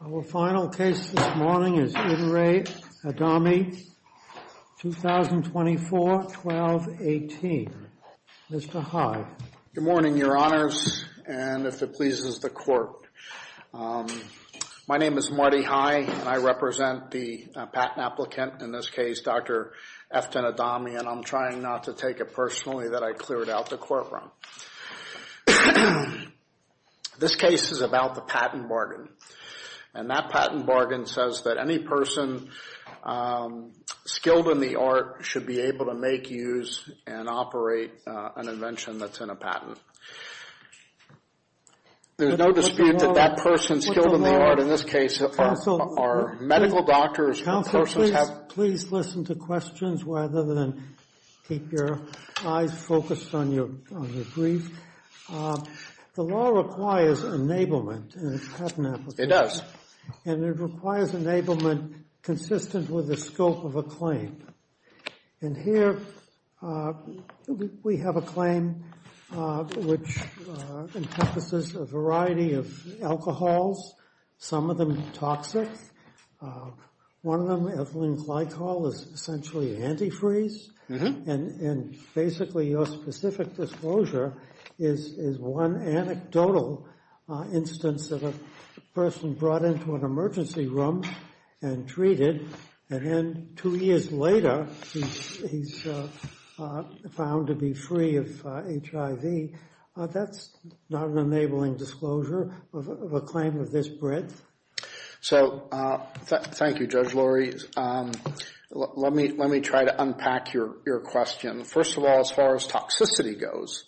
Our final case this morning is Eden Rae Adhami, 2024-12-18. Mr. Hyde. Good morning, your honors, and if it pleases the court, my name is Marty Hyde and I represent the patent applicant, in this case, Dr. Eftin Adhami, and I'm trying not to take it personally that I cleared out the courtroom. This case is about the patent bargain. And that patent bargain says that any person skilled in the art should be able to make, use, and operate an invention that's in a patent. There's no dispute that that person skilled in the art, in this case, are medical doctors, or persons have... Counsel, please listen to questions rather than keep your eyes focused on your brief. The law requires enablement in a patent application. It does. And it requires enablement consistent with the scope of a claim. And here we have a claim which encompasses a variety of alcohols, some of them toxic, one of them, ethylene glycol, is essentially antifreeze, and basically your specific disclosure is one anecdotal instance of a person brought into an emergency room and treated, and then two years later, he's found to be free of HIV, that's not an enabling disclosure of a claim of this breadth? So, thank you, Judge Lurie. Let me try to unpack your question. First of all, as far as toxicity goes,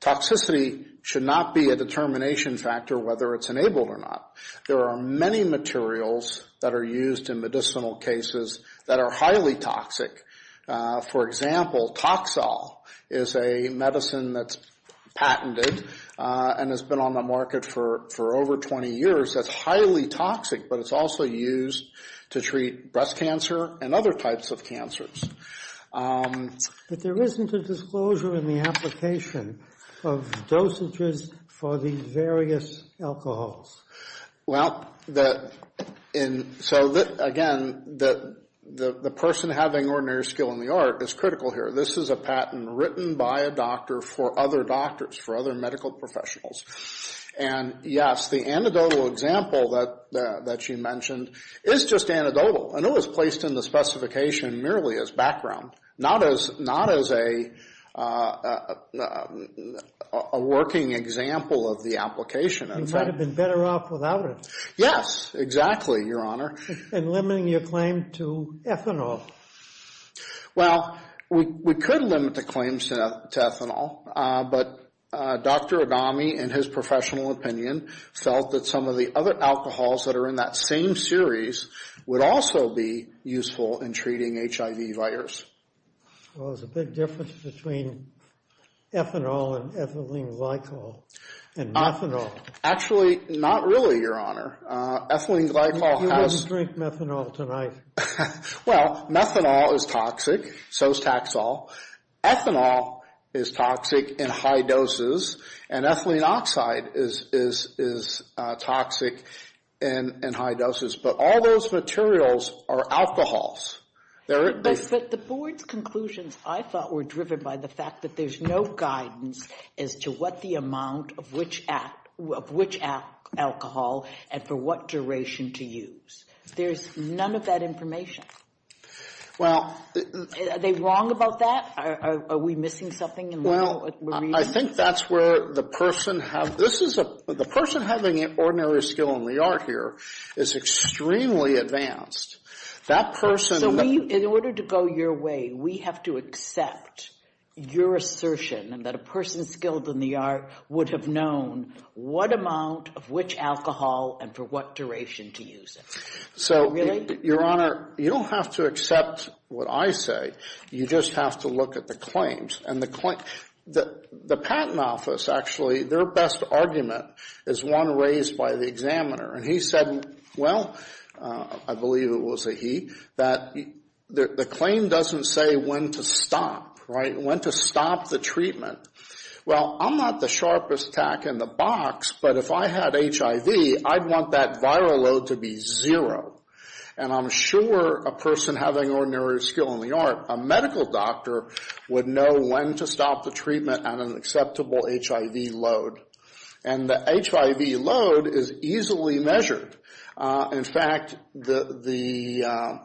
toxicity should not be a determination factor whether it's enabled or not. There are many materials that are used in medicinal cases that are highly toxic. For example, Toxol is a medicine that's patented and has been on the market for over 20 years, that's highly toxic, but it's also used to treat breast cancer and other types of cancers. But there isn't a disclosure in the application of dosages for the various alcohols. Well, so again, the person having ordinary skill in the art is critical here. This is a patent written by a doctor for other doctors, for other medical professionals, and yes, the anecdotal example that you mentioned is just anecdotal, and it was placed in the specification merely as background, not as a working example of the application. He might have been better off without it. Yes, exactly, Your Honor. And limiting your claim to ethanol. Well, we could limit the claims to ethanol, but Dr. Adami, in his professional opinion, felt that some of the other alcohols that are in that same series would also be useful in treating HIV virus. Well, there's a big difference between ethanol and ethylene glycol and methanol. Actually, not really, Your Honor. Ethylene glycol has... You didn't drink methanol tonight. Well, methanol is toxic, so is taxol. Ethanol is toxic in high doses, and ethylene oxide is toxic in high doses. But all those materials are alcohols. But the board's conclusions, I thought, were driven by the fact that there's no guidance as to what the amount of which alcohol and for what duration to use. There's none of that information. Well... Are they wrong about that? Are we missing something? Well, I think that's where the person have... This is a... The person having an ordinary skill in the art here is extremely advanced. That person... So, in order to go your way, we have to accept your assertion that a person skilled in the art would have known what amount of which alcohol and for what duration to use it. So, Your Honor, you don't have to accept what I say. You just have to look at the claims. And the patent office, actually, their best argument is one raised by the examiner. And he said, well, I believe it was a he, that the claim doesn't say when to stop, right? When to stop the treatment. Well, I'm not the sharpest tack in the box, but if I had HIV, I'd want that viral load to be zero. And I'm sure a person having ordinary skill in the art, a medical doctor, would know when to stop the treatment at an acceptable HIV load. And the HIV load is easily measured. In fact, the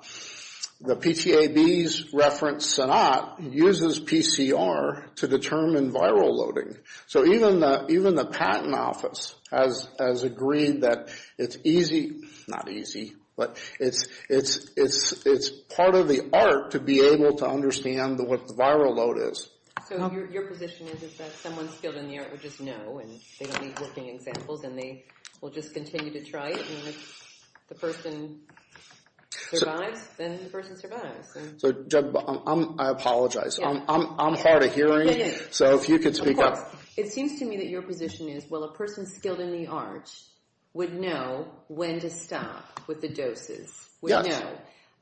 PTAB's reference, SONAT, uses PCR to determine viral loading. So, even the patent office has agreed that it's easy... Not easy, but it's part of the art to be able to understand what the viral load is. So, your position is that someone skilled in the art would just know, and they don't need working examples, and they will just continue to try it. And if the person survives, then the person survives. So, I apologize. I'm hard of hearing, so if you could speak up. Of course. It seems to me that your position is, well, a person skilled in the art would know when to stop with the doses, would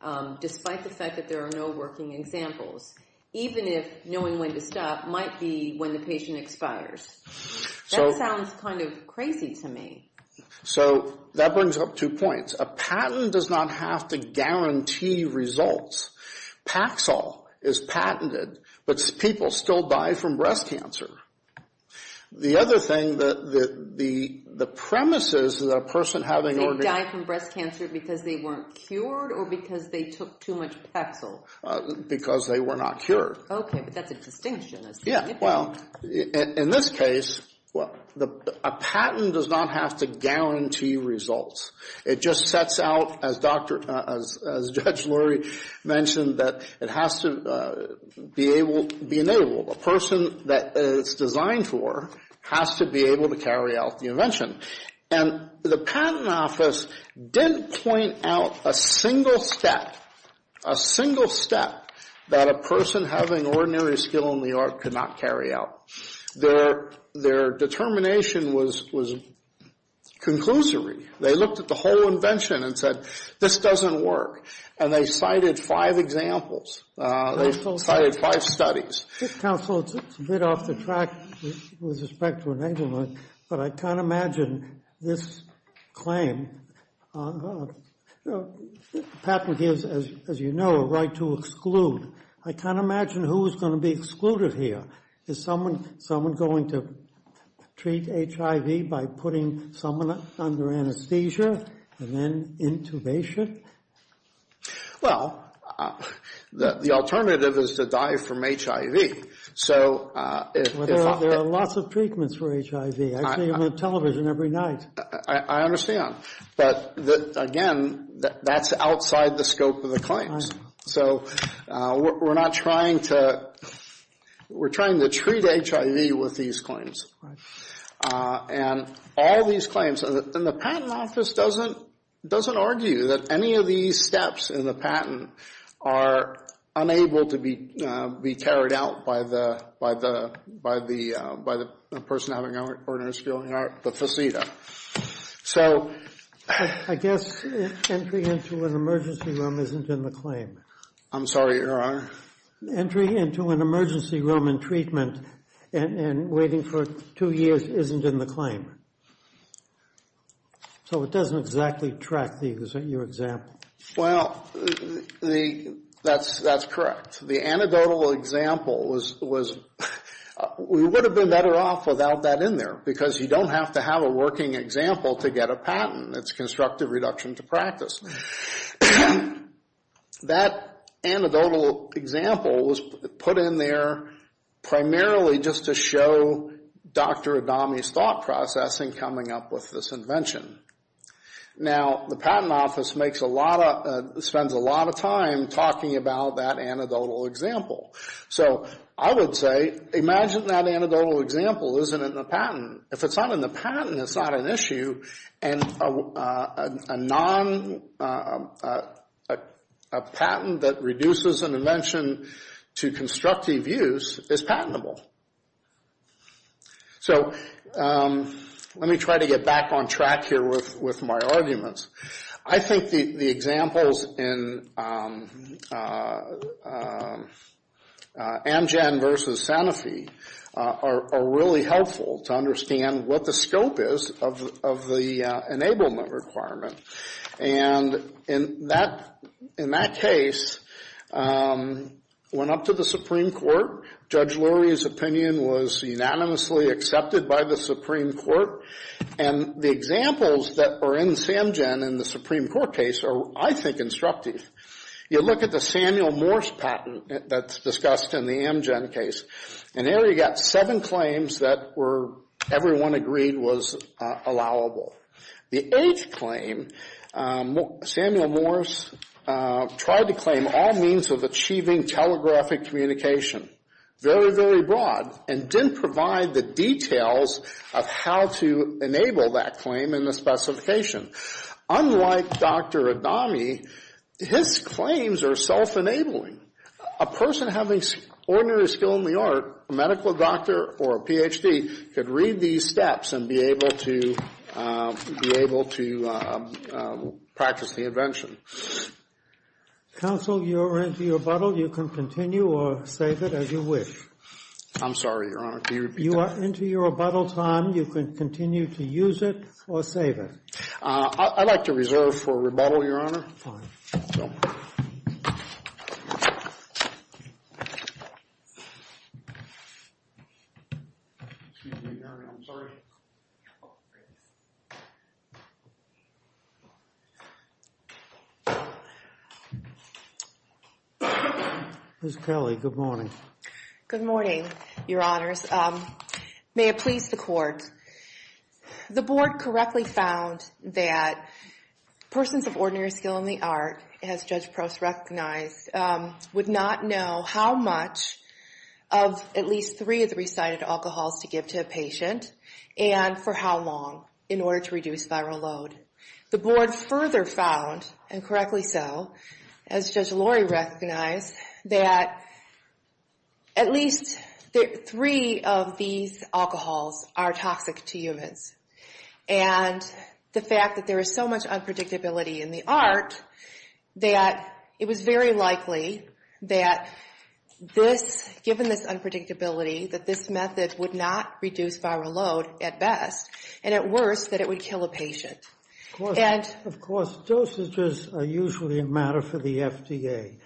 know, despite the fact that there are no working examples. Even if knowing when to stop might be when the patient expires. That sounds kind of crazy to me. So, that brings up two points. A patent does not have to guarantee results. Paxil is patented, but people still die from breast cancer. The other thing, the premises that a person having... They die from breast cancer because they weren't cured, or because they took too much Paxil? Because they were not cured. Okay, but that's a distinction. Yeah, well, in this case, a patent does not have to guarantee results. It just sets out, as Judge Lurie mentioned, that it has to be enabled. A person that it's designed for has to be able to carry out the invention. And the patent office didn't point out a single step, a single step, that a person having ordinary skill in the art could not carry out. Their determination was conclusory. They looked at the whole invention and said, this doesn't work. And they cited five examples. They cited five studies. Counsel, it's a bit off the track with respect to enablement, but I can't imagine this claim. Patent gives, as you know, a right to exclude. I can't imagine who is going to be excluded here. Is someone going to treat HIV by putting someone under anesthesia and then intubation? Well, the alternative is to die from HIV. So if I... There are lots of treatments for HIV. I see them on television every night. I understand. But again, that's outside the scope of the claims. So we're not trying to, we're trying to treat HIV with these claims. And all these claims, and the patent office doesn't argue that any of these steps in the patent are unable to be carried out by the person having ordinary skill in the art, the faceta. So... I guess entry into an emergency room isn't in the claim. I'm sorry, Your Honor. Entry into an emergency room and treatment and waiting for two years isn't in the claim. So it doesn't exactly track these, isn't your example? Well, that's correct. The anecdotal example was... We would have been better off without that in there because you don't have to have a working example to get a patent. It's constructive reduction to practice. That anecdotal example was put in there primarily just to show Dr. Adami's thought process in coming up with this invention. Now, the patent office makes a lot of, spends a lot of time talking about that anecdotal example. So I would say, imagine that anecdotal example isn't in the patent. If it's not in the patent, it's not an issue. And a patent that reduces an invention to constructive use is patentable. So let me try to get back on track here with my arguments. I think the examples in Amgen versus Sanofi are really helpful to understand what the scope is of the enablement requirement. And in that case, went up to the Supreme Court. Judge Lurie's opinion was unanimously accepted by the Supreme Court. And the examples that are in Samgen in the Supreme Court case are, I think, instructive. You look at the Samuel Morse patent that's discussed in the Amgen case. And there you've got seven claims that everyone agreed was allowable. The eighth claim, Samuel Morse tried to claim all means of achieving telegraphic communication. Very, very broad. And didn't provide the details of how to enable that claim in the specification. Unlike Dr. Adami, his claims are self-enabling. A person having ordinary skill in the art, a medical doctor or a Ph.D., could read these steps and be able to practice the invention. Counsel, you are into your rebuttal. You can continue or save it as you wish. I'm sorry, Your Honor. Can you repeat that? You are into your rebuttal time. You can continue to use it or save it. I'd like to reserve for rebuttal, Your Honor. Fine. Thank you. Excuse me, Your Honor. I'm sorry. Ms. Kelly, good morning. Good morning, Your Honors. May it please the Court. The Board correctly found that persons of ordinary skill in the art, as Judge Prost recognized, would not know how much of at least three of the recited alcohols to give to a patient and for how long in order to reduce viral load. The Board further found, and correctly so, as Judge Lori recognized, that at least three of these alcohols are toxic to humans. And the fact that there is so much unpredictability in the art, that it was very likely that this, given this unpredictability, that this method would not reduce viral load at best, and at worst that it would kill a patient. Of course, dosages are usually a matter for the FDA.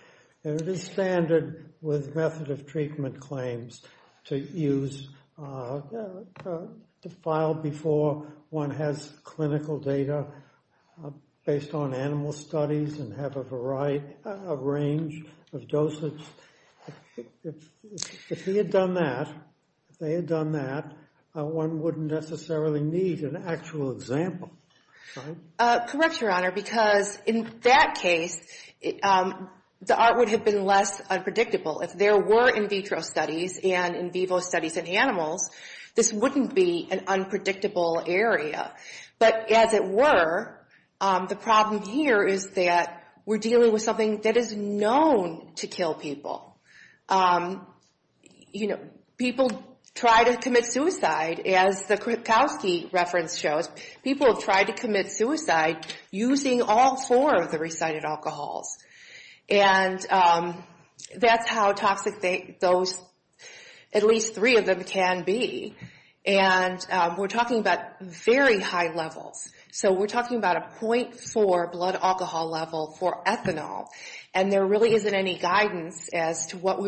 And it is standard with method of treatment claims to use, to file before one has clinical data based on animal studies and have a range of dosage. If he had done that, if they had done that, one wouldn't necessarily need an actual example. Correct, Your Honor, because in that case, the art would have been less unpredictable. If there were in vitro studies and in vivo studies in animals, this wouldn't be an unpredictable area. But as it were, the problem here is that we're dealing with something that is known to kill people. You know, people try to commit suicide, as the Krupkowski reference shows. People have tried to commit suicide using all four of the recited alcohols. And that's how toxic those, at least three of them, can be. And we're talking about very high levels. So we're talking about a .4 blood alcohol level for ethanol. And there really isn't any guidance as to what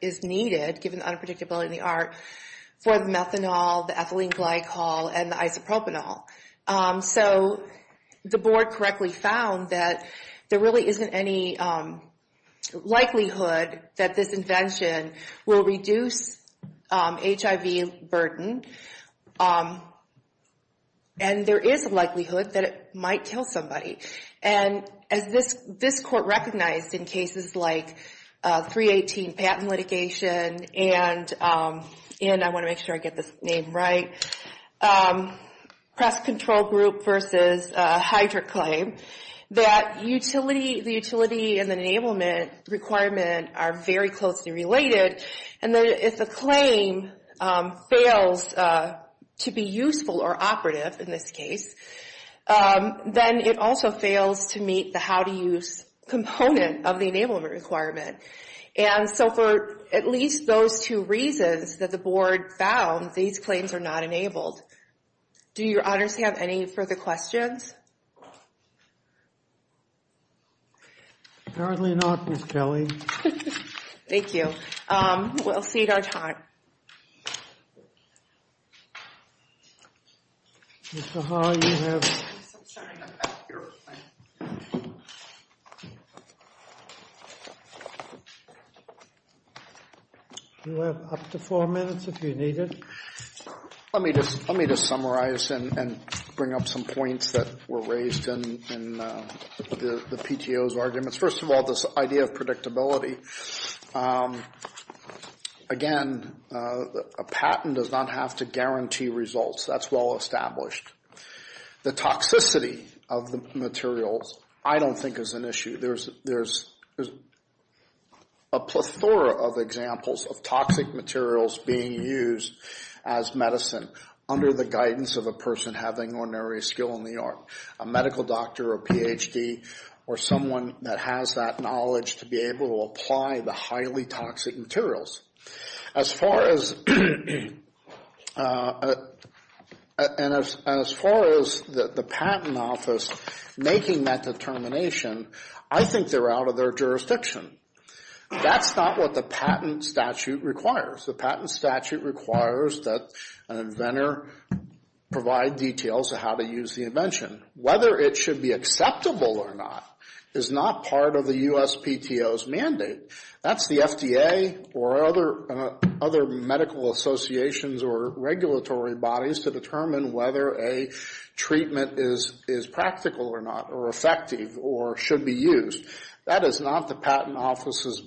is needed, given the unpredictability in the art, for the methanol, the ethylene glycol, and the isopropanol. So the Board correctly found that there really isn't any likelihood that this invention will reduce HIV burden. And there is a likelihood that it might kill somebody. And as this Court recognized in cases like 318 patent litigation and I want to make sure I get this name right, Press Control Group v. Hydric Claim, that the utility and the enablement requirement are very closely related. And if the claim fails to be useful or operative, in this case, then it also fails to meet the how-to-use component of the enablement requirement. And so for at least those two reasons that the Board found, these claims are not enabled. Do your honors have any further questions? Apparently not, Ms. Kelly. Thank you. We'll cede our time. Mr. Haar, you have up to four minutes if you need it. Let me just summarize and bring up some points that were raised in the PTO's arguments. First of all, this idea of predictability. Again, a patent does not have to guarantee results. That's well established. The toxicity of the materials I don't think is an issue. There's a plethora of examples of toxic materials being used as medicine under the guidance of a person having ordinary skill in the art. A medical doctor or Ph.D. or someone that has that knowledge to be able to apply the highly toxic materials. As far as the patent office making that determination, I think they're out of their jurisdiction. That's not what the patent statute requires. The patent statute requires that an inventor provide details of how to use the invention. Whether it should be acceptable or not is not part of the US PTO's mandate. That's the FDA or other medical associations or regulatory bodies to determine whether a treatment is practical or not or effective or should be used. That is not the patent office's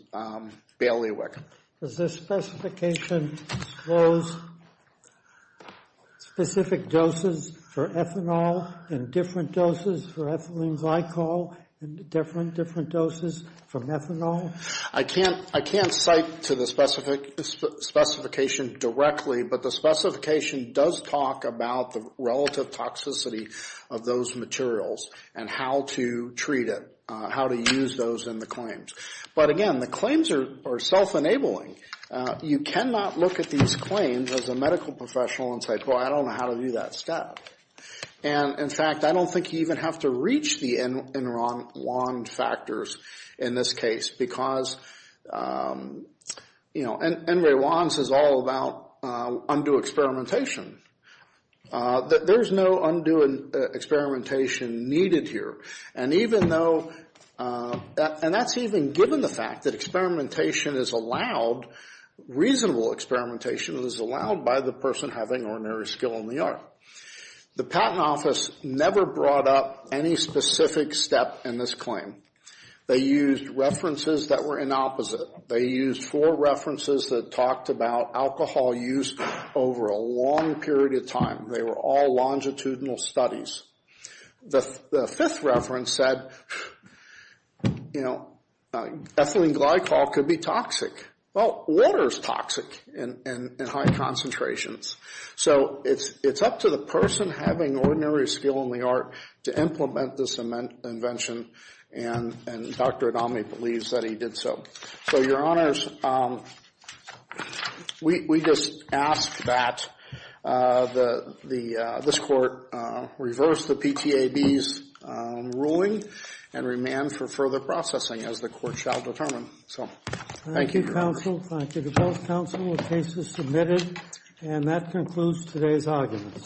bailiwick. Does the specification disclose specific doses for ethanol and different doses for ethylene glycol and different doses for methanol? I can't cite to the specification directly, but the specification does talk about the relative toxicity of those materials and how to treat it, how to use those in the claims. But again, the claims are self-enabling. You cannot look at these claims as a medical professional and say, I don't know how to do that stuff. In fact, I don't think you even have to reach the Enron wand factors in this case because Enray Wands is all about undue experimentation. There's no undue experimentation needed here. And that's even given the fact that experimentation is allowed, reasonable experimentation is allowed by the person having ordinary skill in the art. The patent office never brought up any specific step in this claim. They used references that were inopposite. They used four references that talked about alcohol use over a long period of time. They were all longitudinal studies. The fifth reference said, you know, ethylene glycol could be toxic. Well, water is toxic in high concentrations. So it's up to the person having ordinary skill in the art to implement this invention, and Dr. Adami believes that he did so. So, Your Honors, we just ask that this Court reverse the PTAB's ruling and remand for further processing as the Court shall determine. So, thank you. Thank you, counsel. Thank you to both counsel. The case is submitted. And that concludes today's arguments.